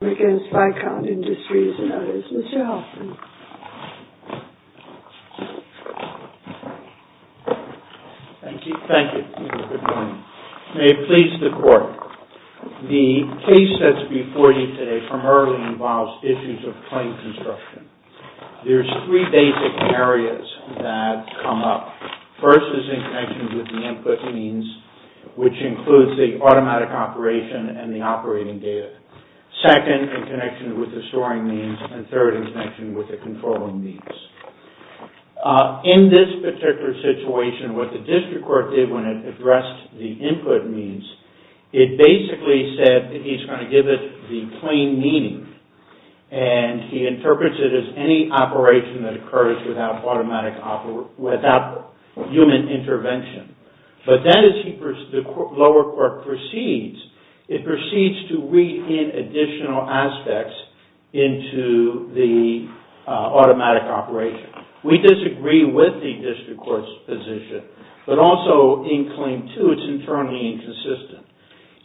May it please the Court, the case that's before you today primarily involves issues of plane construction. There's three basic areas that come up. First is in connection with the input means, which includes the automatic operation and the operating data. Second, in connection with the storing means. And third, in connection with the controlling means. In this particular situation, what the district court did when it addressed the input means, it basically said that he's going to give it the plane meaning. And he interprets it as any operation that occurs without human intervention. But then as the lower court proceeds, it proceeds to read in additional aspects into the automatic operation. We disagree with the district court's position, but also in claim two, it's internally inconsistent.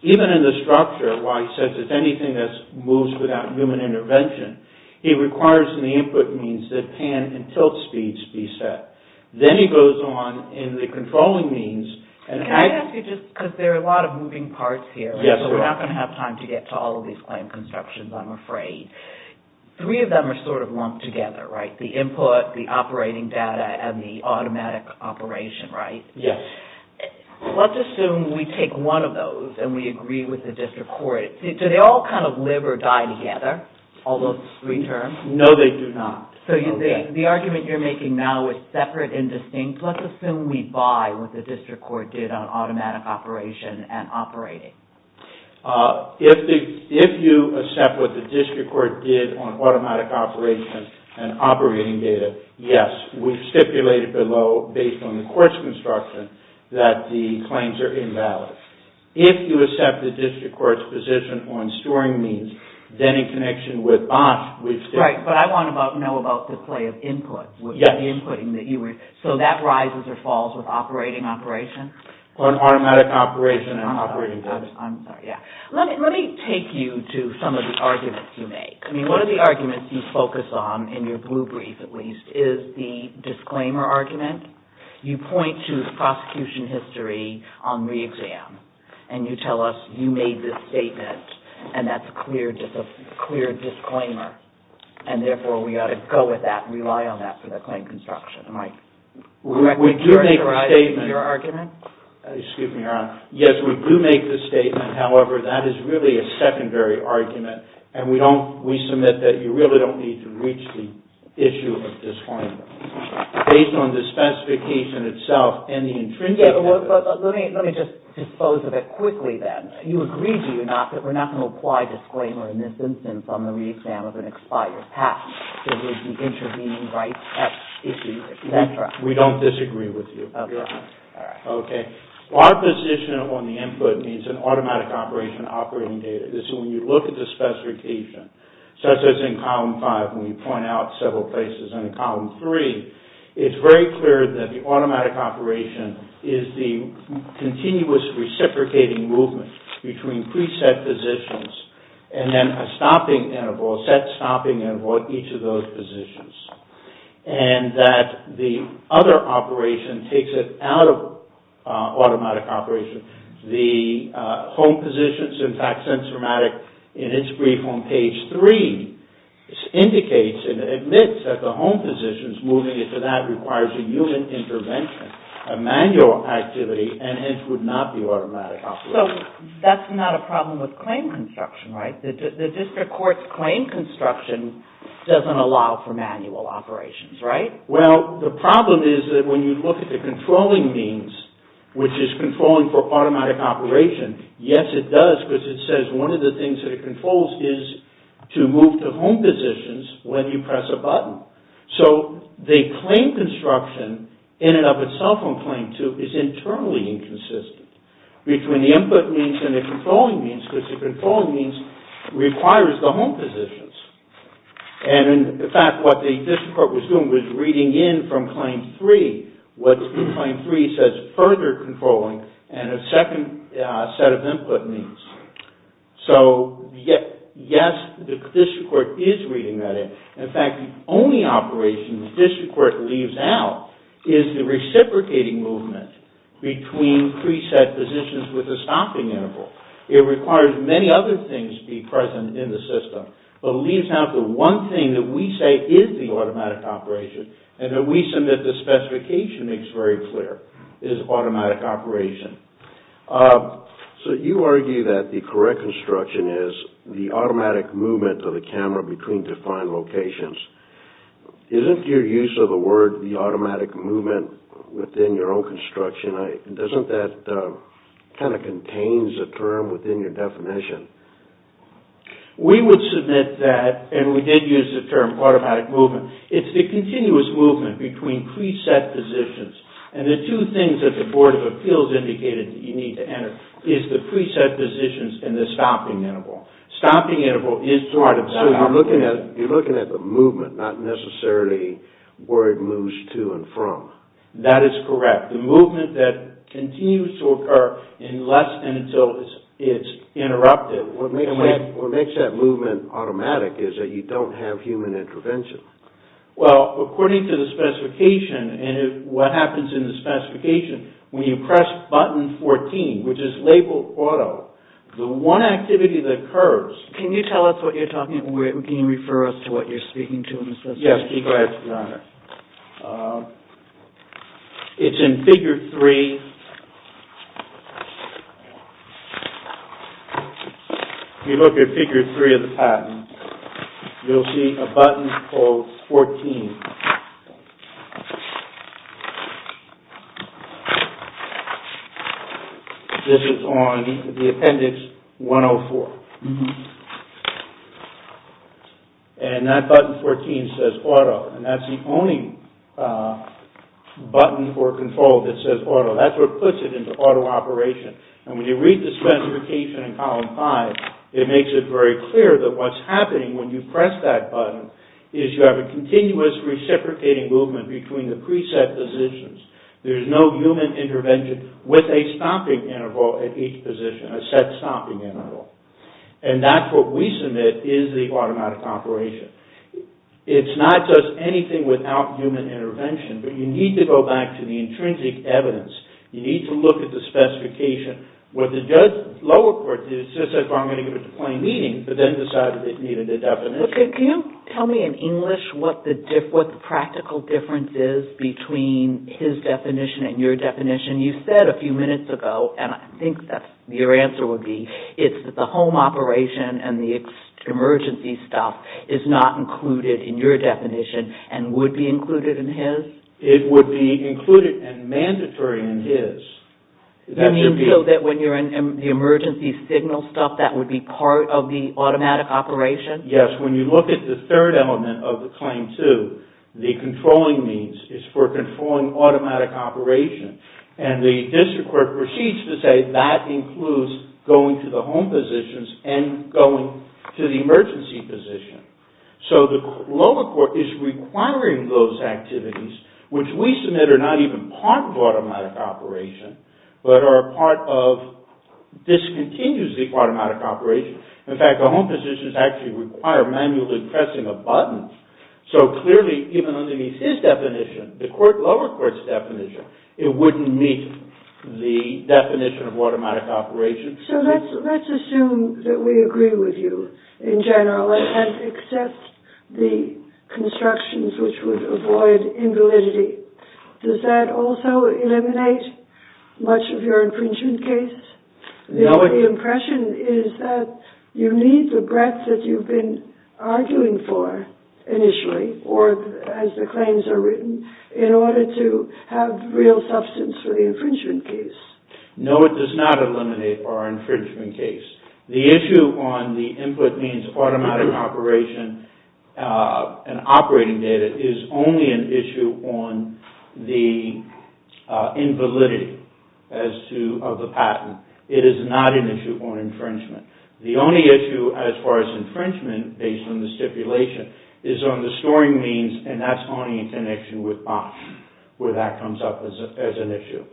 Even in the structure, why it says it's anything that moves without human intervention, it requires in the input means that pan and tilt speeds be set. Then he goes on in the controlling means and... Can I ask you just, because there are a lot of moving parts here, so we're not going to have time to get to all of these plane constructions, I'm afraid. Three of them are sort of lumped together, right? The input, the operating data, and the automatic operation, right? Yes. Let's assume we take one of those and we agree with the district court. Do they all kind of live or die together, all those three terms? No, they do not. So the argument you're making now is separate and distinct. Let's assume we buy what the district court did on automatic operation and operating. If you accept what the district court did on automatic operation and operating data, yes. We've stipulated below, based on the court's construction, that the claims are invalid. If you accept the district court's position on storing means, then in connection with BOSH, we've stipulated... Right, but I want to know about the play of input. Yes. So that rises or falls with operating operation? On automatic operation and operating data. I'm sorry, yes. Let me take you to some of the arguments you make. I mean, one of the arguments you focus on, in your blue brief at least, is the disclaimer argument. You point to the prosecution history on re-exam, and you tell us you made this statement, and that's a clear disclaimer, and therefore we ought to go with that and rely on that for the claim construction. Am I correct in characterizing your argument? Excuse me, Your Honor. Yes, we do make this statement. However, that is really a secondary argument, and we submit that you really don't need to reach the issue of disclaimer. Based on the specification itself and the intrinsic... Yes, but let me just dispose of it quickly then. You agree, do you not, that we're not going to apply disclaimer in this instance on the re-exam if it expires? Perhaps there is an intervening right at issue. That's right. We don't disagree with you, Your Honor. Okay. Our position on the input needs an automatic operation operating data. This is when you look at the specification, such as in Column 5, when you point out several places in Column 3, it's very clear that the automatic operation is the continuous reciprocating movement between pre-set positions and then a stopping interval, a set stopping interval at each of those positions, and that the other operation takes it out of automatic operation. The home positions, in fact, since dramatic in its brief on Page 3, indicates and admits that the home positions moving into that requires a human intervention, a manual activity, and hence would not be automatic operation. So that's not a problem with claim construction, right? The district court's claim construction doesn't allow for manual operations, right? Well, the problem is that when you look at the controlling means, which is controlling for automatic operation, yes, it does because it says one of the things that it controls is to move to home positions when you press a button. So the claim construction in and of itself on Claim 2 is internally inconsistent between the input means and the controlling means because the controlling means requires the home positions. And, in fact, what the district court was doing was reading in from Claim 3 what Claim 3 says further controlling and a second set of input means. So, yes, the district court is reading that in. In fact, the only operation the district court leaves out is the reciprocating movement between preset positions with a stopping interval. It requires many other things to be present in the system, but leaves out the one thing that we say is the automatic operation and that we submit the specification makes very clear is automatic operation. So you argue that the correct construction is the automatic movement of the camera between defined locations. Isn't your use of the word the automatic movement within your own construction, doesn't that kind of contains a term within your definition? We would submit that, and we did use the term automatic movement, it's the continuous movement between preset positions. And the two things that the Board of Appeals indicated that you need to enter is the preset positions and the stopping interval. Stopping interval is part of... So you're looking at the movement, not necessarily where it moves to and from. That is correct. The movement that continues to occur unless and until it's interrupted. What makes that movement automatic is that you don't have human intervention. Well, according to the specification, and what happens in the specification, when you press button 14, which is labeled auto, the one activity that occurs... Can you tell us what you're talking... Can you refer us to what you're speaking to in the system? Yes, please go ahead, Your Honor. It's in figure 3. If you look at figure 3 of the patent, you'll see a button called 14. This is on the appendix 104. And that button 14 says auto, and that's the only button or control that says auto. That's what puts it into auto operation. And when you read the specification in column 5, it makes it very clear that what's happening when you press that button is you have a continuous reciprocating movement between the preset positions. There's no human intervention with a stopping interval at each position, a set stopping interval. And that's what we submit is the automatic operation. It's not just anything without human intervention, but you need to go back to the intrinsic evidence. You need to look at the specification. What the lower court did is just said, well, I'm going to give it to plain meaning, but then decided it needed a definition. Can you tell me in English what the practical difference is between his definition and your definition? You said a few minutes ago, and I think that's your answer would be, it's that the home operation and the emergency stuff is not included in your definition and would be included in his? It would be included and mandatory in his. You mean so that when you're in the emergency signal stuff, that would be part of the automatic operation? Yes, when you look at the third element of the Claim 2, the controlling means, it's for controlling automatic operation. And the district court proceeds to say that includes going to the home positions and going to the emergency position. So the lower court is requiring those activities, which we submit are not even part of automatic operation, but are a part of discontinues the automatic operation. In fact, the home positions actually require manually pressing a button. So clearly, even underneath his definition, the lower court's definition, it wouldn't meet the definition of automatic operation. So let's assume that we agree with you in general and accept the constructions which would avoid invalidity. Does that also eliminate much of your infringement case? The impression is that you need the breadth that you've been arguing for initially or as the claims are written in order to have real substance for the infringement case. No, it does not eliminate our infringement case. The issue on the input means automatic operation and operating data is only an issue on the invalidity of the patent. It is not an issue on infringement. The only issue as far as infringement, based on the stipulation, is on the storing means and that's only in connection with BOSH, where that comes up as an issue.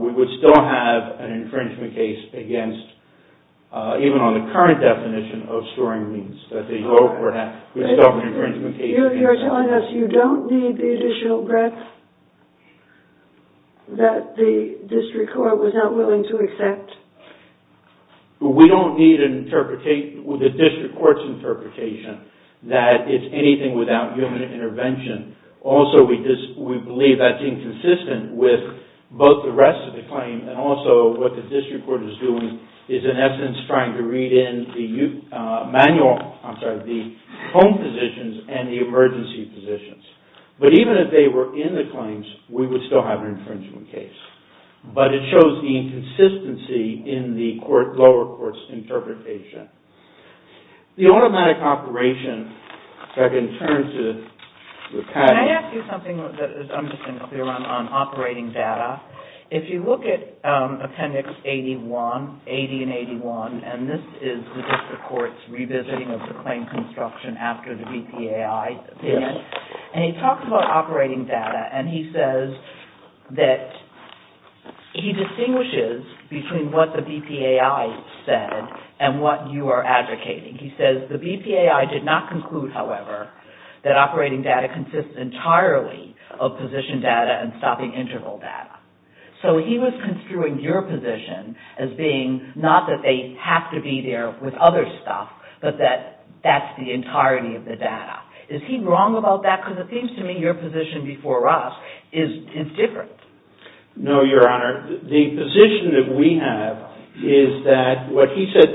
We would still have an infringement case against, even on the current definition of storing means, that the lower court has discovered infringement cases. You're telling us you don't need the additional breadth that the district court was not willing to accept? We don't need the district court's interpretation that it's anything without human intervention. Also, we believe that's inconsistent with both the rest of the claim and also what the district court is doing is in essence trying to read in the home positions and the emergency positions. But even if they were in the claims, we would still have an infringement case. But it shows the inconsistency in the lower court's interpretation. The automatic operation, if I can turn to the patent... Can I ask you something? I'm just going to clear on operating data. If you look at Appendix 81, 80 and 81, and this is the district court's revisiting of the claim construction after the BPAI, and he talks about operating data and he says that he distinguishes between what the BPAI said and what you are advocating. He says the BPAI did not conclude, however, that operating data consists entirely of position data and stopping interval data. So he was construing your position as being not that they have to be there with other stuff, but that that's the entirety of the data. Is he wrong about that? Because it seems to me your position before us is different. No, Your Honor. The position that we have is that what he said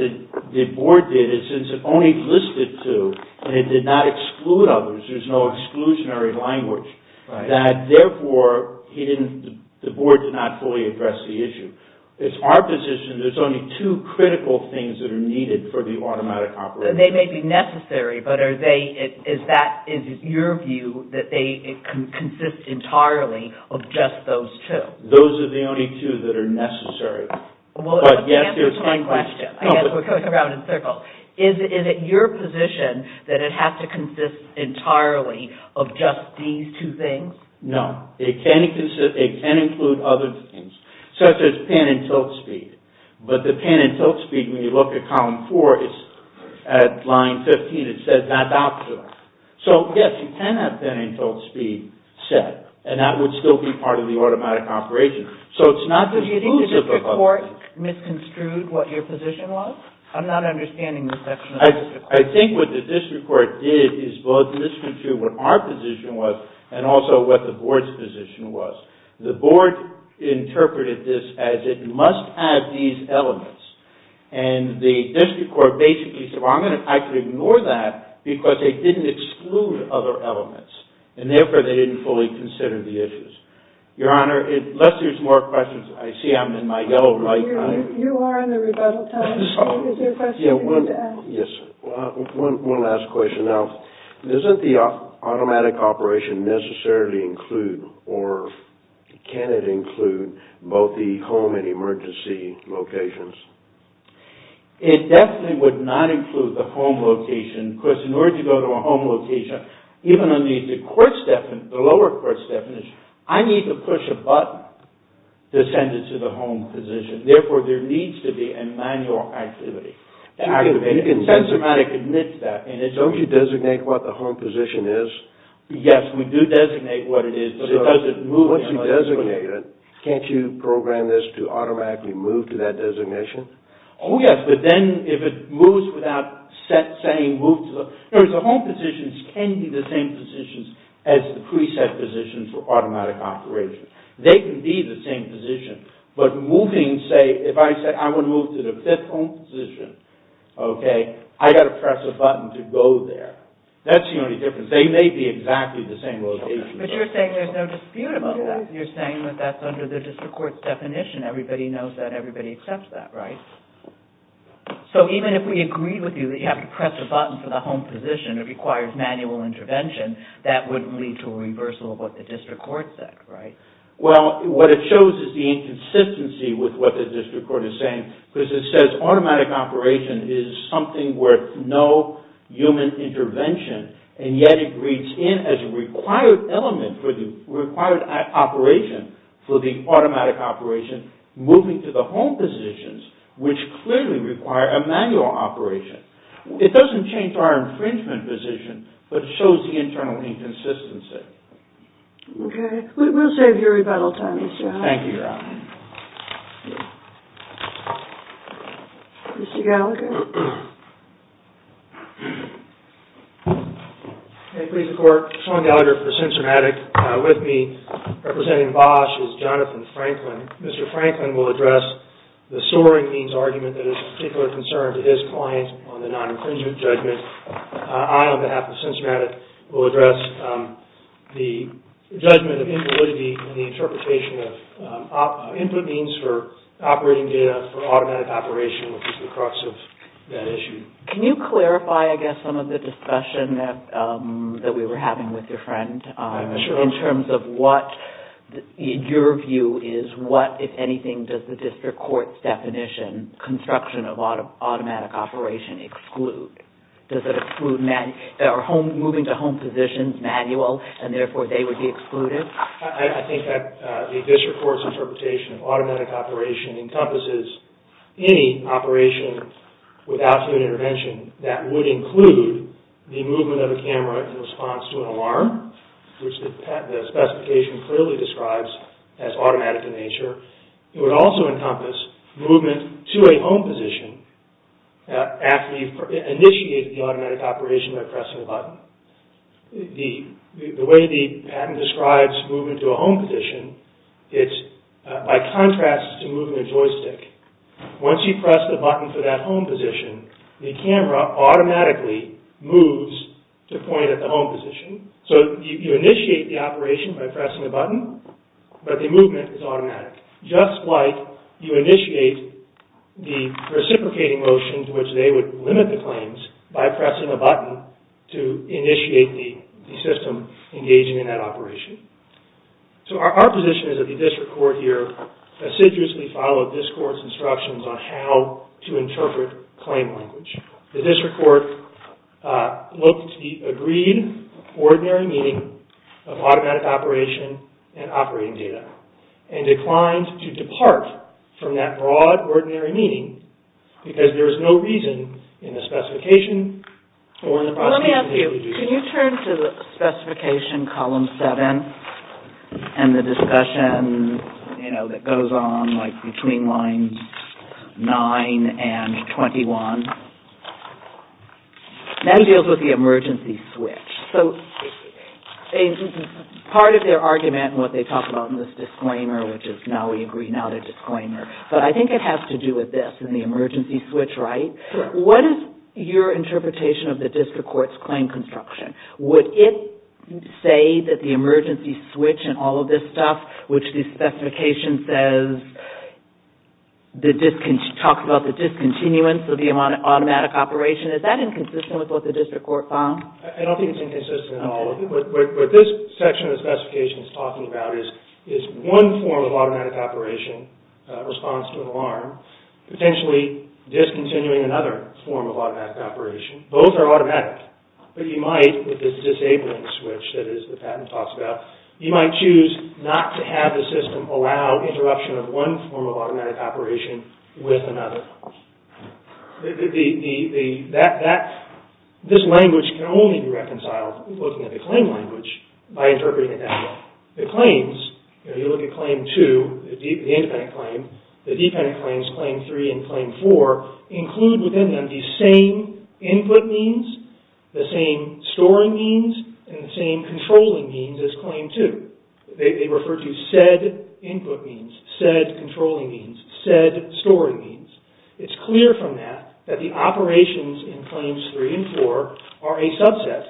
the board did is since it only listed two and it did not exclude others, there's no exclusionary language, that therefore the board did not fully address the issue. It's our position there's only two critical things that are needed for the automatic operation. They may be necessary, but is that your view that it consists entirely of just those two? Those are the only two that are necessary. Well, let me answer the same question. I guess we're going around in circles. Is it your position that it has to consist entirely of just these two things? No. It can include other things, such as pin and tilt speed. But the pin and tilt speed, when you look at column four, is at line 15. It says that's optional. So yes, you can have pin and tilt speed set, and that would still be part of the automatic operation. So it's not exclusive of others. Do you think the district court misconstrued what your position was? I'm not understanding this section of the district court. I think what the district court did is both misconstrued what our position was and also what the board's position was. The board interpreted this as it must have these elements. And the district court basically said, well, I could ignore that because it didn't exclude other elements. And therefore, they didn't fully consider the issues. Your Honor, unless there's more questions, I see I'm in my yellow light. You are in the rebuttal time. Is there a question you need to ask? Yes. One last question. Now, doesn't the automatic operation necessarily include, or can it include, both the home and emergency locations? It definitely would not include the home location because in order to go to a home location, even under the lower court's definition, I need to push a button to send it to the home position. Therefore, there needs to be a manual activity. And automatic admits that. Don't you designate what the home position is? Yes, we do designate what it is. But it doesn't move. Once you designate it, can't you program this to automatically move to that designation? Oh, yes. But then if it moves without saying move to the, in other words, the home positions can be the same positions as the preset positions for automatic operation. They can be the same position. But moving, say, if I said I want to move to the fifth home position, OK, I've got to press a button to go there. That's the only difference. They may be exactly the same location. But you're saying there's no dispute about that. You're saying that that's under the district court's definition. Everybody knows that. Everybody accepts that, right? So even if we agree with you that you have to press a button for the home position, it requires manual intervention, that would lead to a reversal of what the district court said, right? Well, what it shows is the inconsistency with what the district court is saying. Because it says automatic operation is something worth no human intervention. And yet, it reads in as a required element for the required operation for the automatic operation moving to the home positions, which clearly require a manual operation. It doesn't change our infringement position, but it shows the internal inconsistency. OK. We'll save your rebuttal time, Mr. Hunt. Thank you, Your Honor. Mr. Gallagher. May it please the court, Sean Gallagher for Censormatic with me. Representing Bosch is Jonathan Franklin. Mr. Franklin will address the soaring means argument that is of particular concern to his client on the non-infringement judgment. I, on behalf of Censormatic, will address the judgment of invalidity in the interpretation of input means for operating data for automatic operation, which is the crux of that issue. Can you clarify, I guess, some of the discussion that we were having with your friend? I'm sure. In terms of what your view is, what, if anything, does the district court's definition, construction of automatic operation, exclude? Does it exclude moving to home position manual, and therefore they would be excluded? I think that the district court's interpretation of automatic operation encompasses any operation without human intervention that would include the movement of a camera in response to an alarm, which the specification clearly describes as automatic in nature. It would also encompass movement to a home position after you've initiated the automatic operation by pressing a button. The way the patent describes movement to a home position, it's by contrast to moving a joystick. Once you press the button for that home position, the camera automatically moves to point at the home position. but the movement is automatic. Just like you initiate the reciprocating motion to which they would limit the claims by pressing a button to initiate the system engaging in that operation. So our position is that the district court here assiduously followed this court's instructions on how to interpret claim language. The district court looked to the agreed ordinary meaning of automatic operation and operating data and declined to depart from that broad ordinary meaning because there is no reason in the specification or in the prosecution to do so. Let me ask you, can you turn to the specification column 7 and the discussion that goes on between lines 9 and 21? That deals with the emergency switch. So part of their argument and what they talk about in this disclaimer, which is now we agree not a disclaimer, but I think it has to do with this and the emergency switch, right? What is your interpretation of the district court's claim construction? Would it say that the emergency switch and all of this stuff, which the specification talks about the discontinuance of the automatic operation, is that inconsistent with what the district court found? I don't think it's inconsistent at all. What this section of the specification is talking about is one form of automatic operation, response to an alarm, potentially discontinuing another form of automatic operation. Both are automatic. But you might, with this disabling switch that the patent talks about, you might choose not to have the system allow interruption of one form of automatic operation with another. This language can only be reconciled looking at the claim language by interpreting it that way. The claims, you look at claim 2, the independent claim, the dependent claims, claim 3 and claim 4, include within them the same input means, the same storing means, and the same controlling means as claim 2. They refer to said input means, said controlling means, said storing means. It's clear from that that the operations in claims 3 and 4 are a subset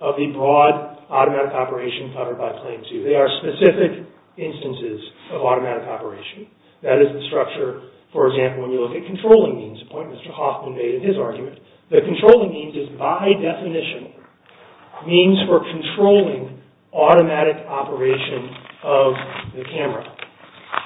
of the broad automatic operation covered by claim 2. They are specific instances of automatic operation. That is the structure, for example, when you look at controlling means, a point Mr. Hoffman made in his argument. The controlling means is by definition means for controlling automatic operation of the camera.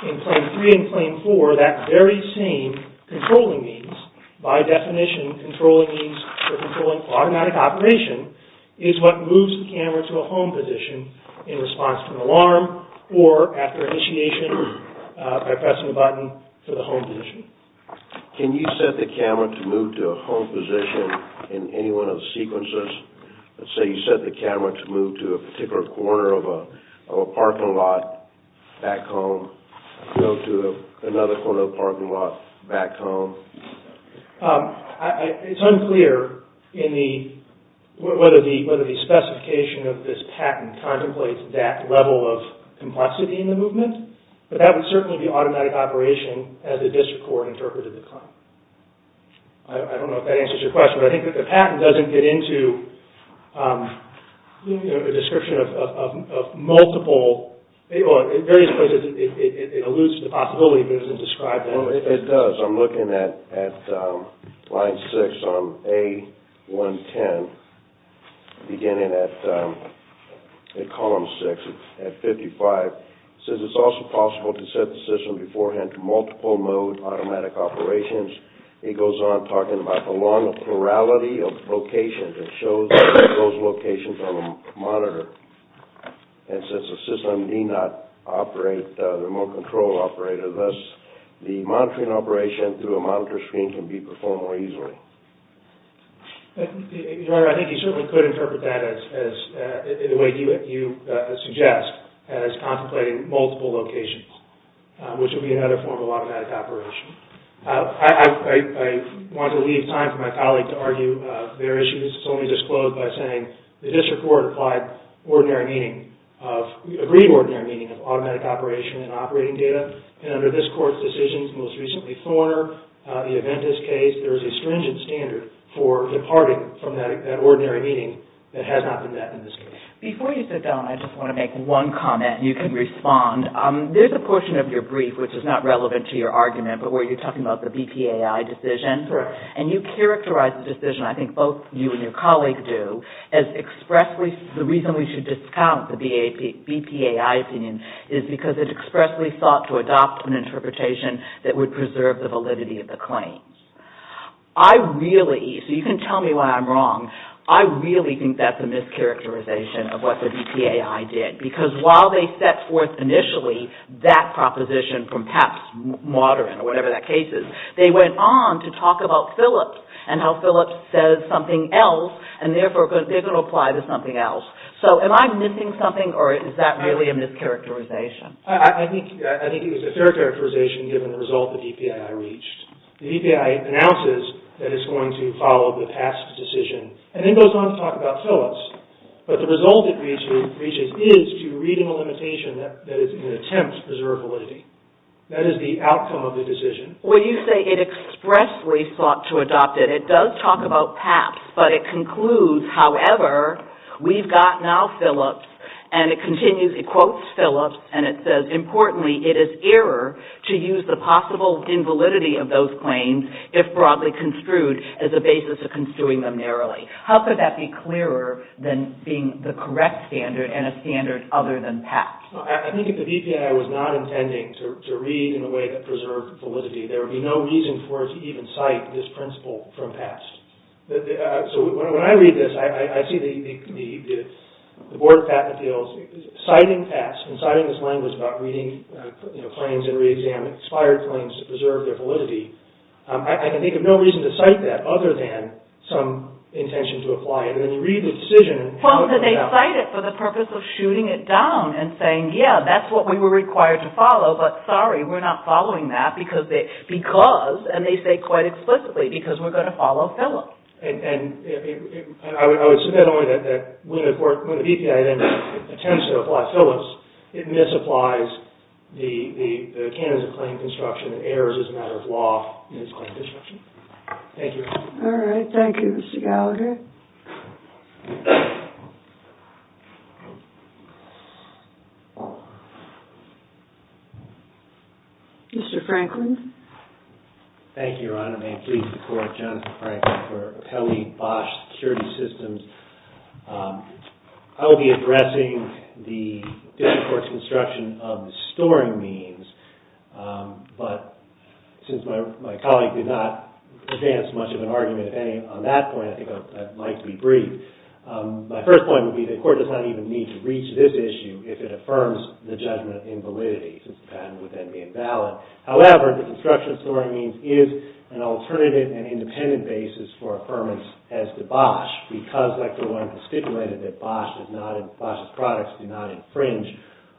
In claim 3 and claim 4, that very same controlling means, by definition, controlling means for controlling automatic operation, is what moves the camera to a home position in response to an alarm or after initiation by pressing a button to the home position. Can you set the camera to move to a home position in any one of the sequences? Let's say you set the camera to move to a particular corner of a parking lot back home, go to another corner of a parking lot back home. It's unclear whether the specification of this patent contemplates that level of complexity in the movement, but that would certainly be automatic operation as a district court interpreted the claim. I don't know if that answers your question, but I think that the patent doesn't get into a description of multiple, or in various places, it alludes to the possibility, but it doesn't describe that. It does. I'm looking at line 6 on A110, beginning at column 6 at 55. It says it's also possible to set the system beforehand to multiple mode automatic operations. It goes on talking about the long plurality of locations. It shows those locations on the monitor, and since the system need not operate, the remote control operator, thus the monitoring operation through a monitor screen can be performed more easily. Your Honor, I think you certainly could interpret that in the way you suggest, as contemplating multiple locations, which would be another form of automatic operation. I want to leave time for my colleague to argue their issues, so let me just close by saying the district court applied ordinary meaning, agreed ordinary meaning, of automatic operation and operating data, and under this Court's decisions, most recently Thorner, the Aventis case, there is a stringent standard for departing from that ordinary meaning that has not been met in this case. Before you sit down, I just want to make one comment, and you can respond. There's a portion of your brief which is not relevant to your argument, but where you're talking about the BPAI decision, and you characterize the decision, I think both you and your colleague do, as expressly, the reason we should discount the BPAI opinion is because it expressly sought to adopt an interpretation that would preserve the validity of the claim. I really, so you can tell me why I'm wrong, I really think that's a mischaracterization of what the BPAI did, because while they set forth initially that proposition from Papp's modern, or whatever that case is, they went on to talk about Phillips, and how Phillips says something else, and therefore they're going to apply to something else. So am I missing something, or is that really a mischaracterization? I think it was a fair characterization given the result the BPAI reached. The BPAI announces that it's going to follow the Papp's decision, and then goes on to talk about Phillips. But the result it reaches is to read in a limitation that is an attempt to preserve validity. That is the outcome of the decision. Well, you say it expressly sought to adopt it. It does talk about Papp's, but it concludes, however, we've got now Phillips, and it continues, it quotes Phillips, and it says, importantly, it is error to use the possible invalidity of those claims, if broadly construed, as a basis of construing them narrowly. How could that be clearer than being the correct standard, and a standard other than Papp's? Well, I think if the BPAI was not intending to read in a way that preserved validity, there would be no reason for it to even cite this principle from Papp's. So when I read this, I see the Board of Patent Appeals citing Papp's, and citing this language about reading claims and reexamining expired claims to preserve their validity. I can think of no reason to cite that other than some intention to apply it. And then you read the decision, Well, then they cite it for the purpose of shooting it down and saying, yeah, that's what we were required to follow, but sorry, we're not following that because they, because, and they say quite explicitly, because we're going to follow Phillips. And I would submit only that when the BPAI then attempts to apply Phillips, it misapplies the canons of claim construction and errors as a matter of law in its claim construction. Thank you. All right, thank you, Mr. Gallagher. Thank you. Mr. Franklin. Thank you, Your Honor. May it please the Court, Jonathan Franklin for Pelley-Bosch Security Systems. I will be addressing the district court's construction of the storing means, but since my colleague did not advance much of an argument on that point, I think I'd like to be brief. My first point would be the court does not even need to reach this issue if it affirms the judgment in validity since the patent would then be invalid. However, the construction of storing means is an alternative and independent basis for affirmance as to Bosch, because, like the lawyer has stipulated, that Bosch's products do not infringe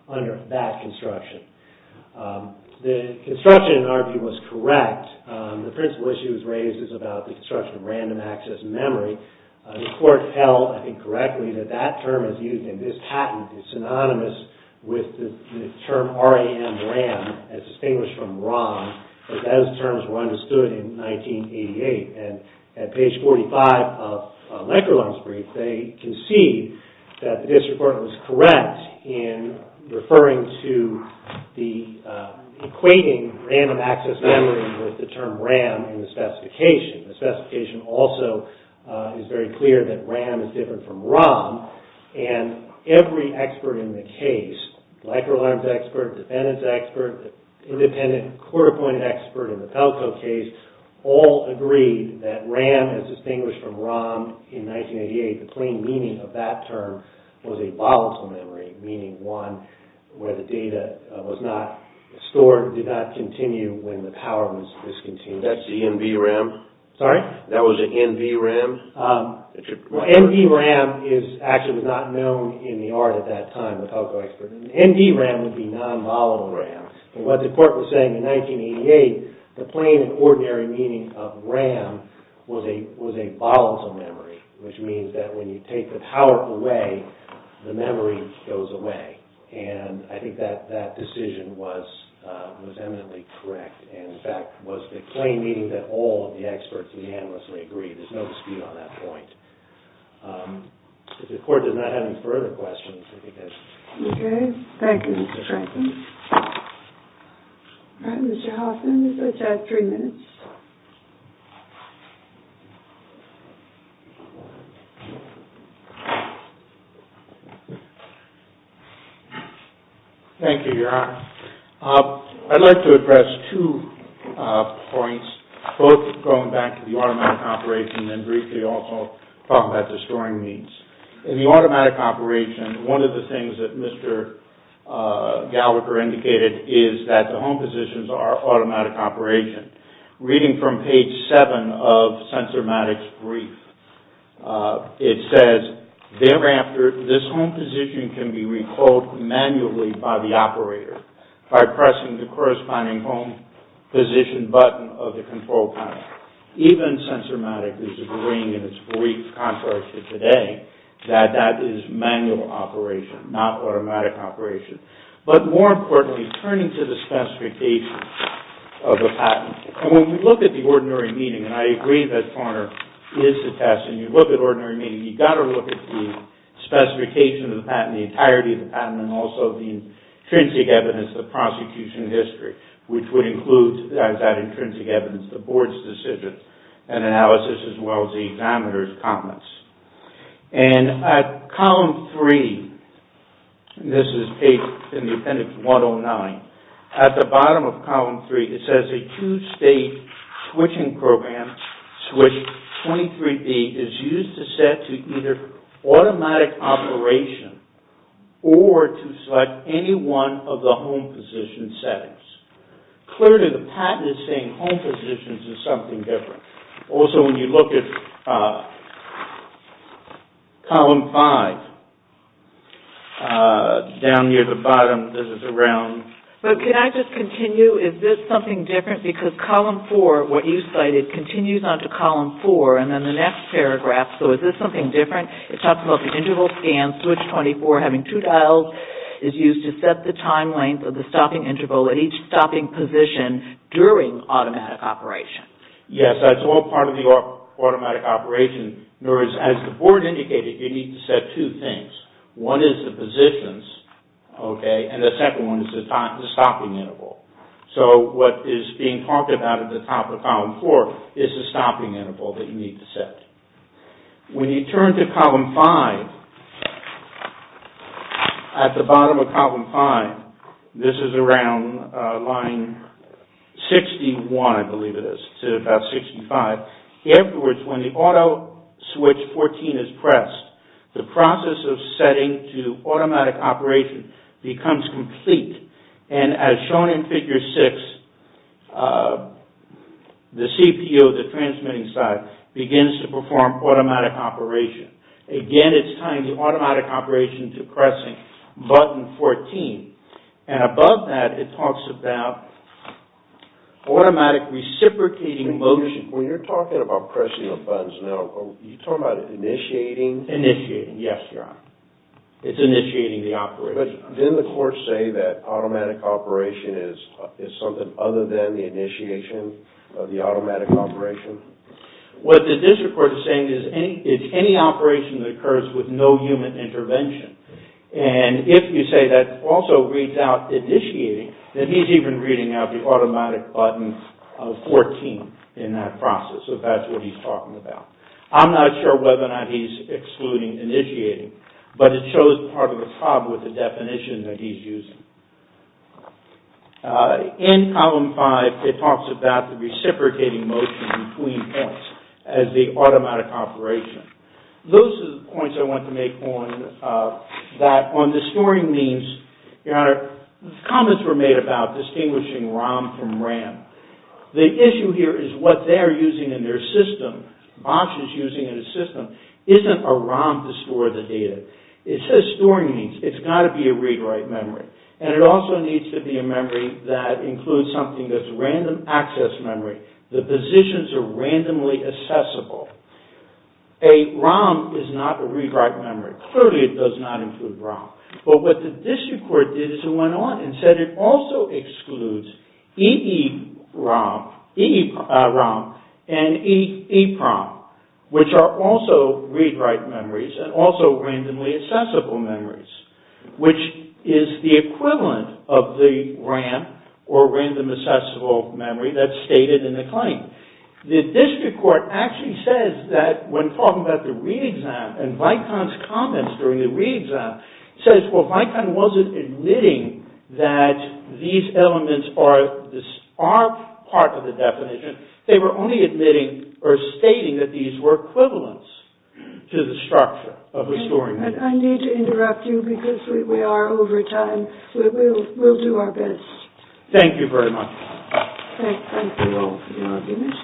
under that construction. The construction, in our view, was correct. The principal issue that was raised was about the construction of random access memory. The court held, I think correctly, that that term is used in this patent is synonymous with the term RAM, as distinguished from ROM, because those terms were understood in 1988. And at page 45 of Lenkerler's brief, they concede that the district court was correct in referring to the equating random access memory with the term RAM in the specification. The specification also is very clear that RAM is different from ROM. And every expert in the case, microalarm's expert, defendant's expert, independent court-appointed expert in the Pelco case, all agreed that RAM, as distinguished from ROM, in 1988, the plain meaning of that term was a volatile memory, meaning one where the data was not stored, or did not continue when the power was discontinued. That's the NVRAM? Sorry? That was the NVRAM? NVRAM actually was not known in the art at that time, the Pelco expert. NVRAM would be non-volatile RAM. And what the court was saying in 1988, the plain and ordinary meaning of RAM was a volatile memory, which means that when you take the power away, the memory goes away. And I think that decision was eminently correct. And, in fact, was the plain meaning that all of the experts unanimously agreed. There's no dispute on that point. If the court does not have any further questions, I think that's... Okay. Thank you, Mr. Franklin. All right, Mr. Hoffman, you've got three minutes. Thank you, Your Honor. I'd like to address two points, both going back to the automatic operation and briefly also talking about the storing means. In the automatic operation, one of the things that Mr. Gallagher indicated is that the home positions are automatic operation. Reading from page 7 of Sensormatic's brief, it says, Thereafter, this home position can be recalled manually by the operator by pressing the corresponding home position button of the control panel. Even Sensormatic is agreeing in its brief contrary to today that that is manual operation, not automatic operation. But, more importantly, turning to the specifications of the patent. And when we look at the ordinary meaning, and I agree that Foner is a test, and you look at ordinary meaning, you've got to look at the specification of the patent, the entirety of the patent, and also the intrinsic evidence, the prosecution history, which would include that intrinsic evidence, the board's decision and analysis, as well as the examiner's comments. And at column 3, this is page, in the appendix 109, at the bottom of column 3, it says, A two-state switching program, switch 23B, is used to set to either automatic operation or to select any one of the home position settings. Clearly, the patent is saying home positions is something different. Also, when you look at column 5, down near the bottom, this is around... But can I just continue? Is this something different? Because column 4, what you cited, it continues on to column 4, and then the next paragraph, so is this something different? It talks about the interval scan, switch 24, having two dials, is used to set the time length of the stopping interval at each stopping position during automatic operation. Yes, that's all part of the automatic operation. In other words, as the board indicated, you need to set two things. One is the positions, and the second one is the stopping interval. What is being talked about at the top of column 4 is the stopping interval that you need to set. When you turn to column 5, at the bottom of column 5, this is around line 61, I believe it is, to about 65. In other words, when the auto switch 14 is pressed, the process of setting to automatic operation becomes complete, and as shown in figure 6, the CPU, the transmitting side, begins to perform automatic operation. Again, it's tying the automatic operation to pressing button 14, and above that, it talks about automatic reciprocating motion. When you're talking about pressing of buttons now, are you talking about initiating? Initiating, yes, Your Honor. It's initiating the operation. Then the courts say that automatic operation is something other than the initiation of the automatic operation? What the district court is saying is any operation that occurs with no human intervention, and if you say that also reads out initiating, then he's even reading out the automatic button 14 in that process, so that's what he's talking about. I'm not sure whether or not he's excluding initiating, but it shows part of the problem with the definition that he's using. In Column 5, it talks about the reciprocating motion between points as the automatic operation. Those are the points I want to make on that on the storing means, Your Honor, comments were made about distinguishing ROM from RAM. The issue here is what they're using in their system, Bosch is using in his system, isn't a ROM to store the data. It says storing means. It's got to be a read-write memory, and it also needs to be a memory that includes something that's a random access memory. The positions are randomly accessible. A ROM is not a read-write memory. Clearly, it does not include ROM, but what the district court did is it went on and said it also excludes EEPROM, and EEPROM, which are also read-write memories, and also randomly accessible memories, which is the equivalent of the RAM, or random accessible memory that's stated in the claim. The district court actually says that when talking about the re-exam, and Vicon's comments during the re-exam, says, well, Vicon wasn't admitting that these elements are part of the definition. They were only admitting, or stating that these were equivalents to the structure of the storing means. I need to interrupt you because we are over time. We'll do our best. Thank you very much. Thank you all for your arguments.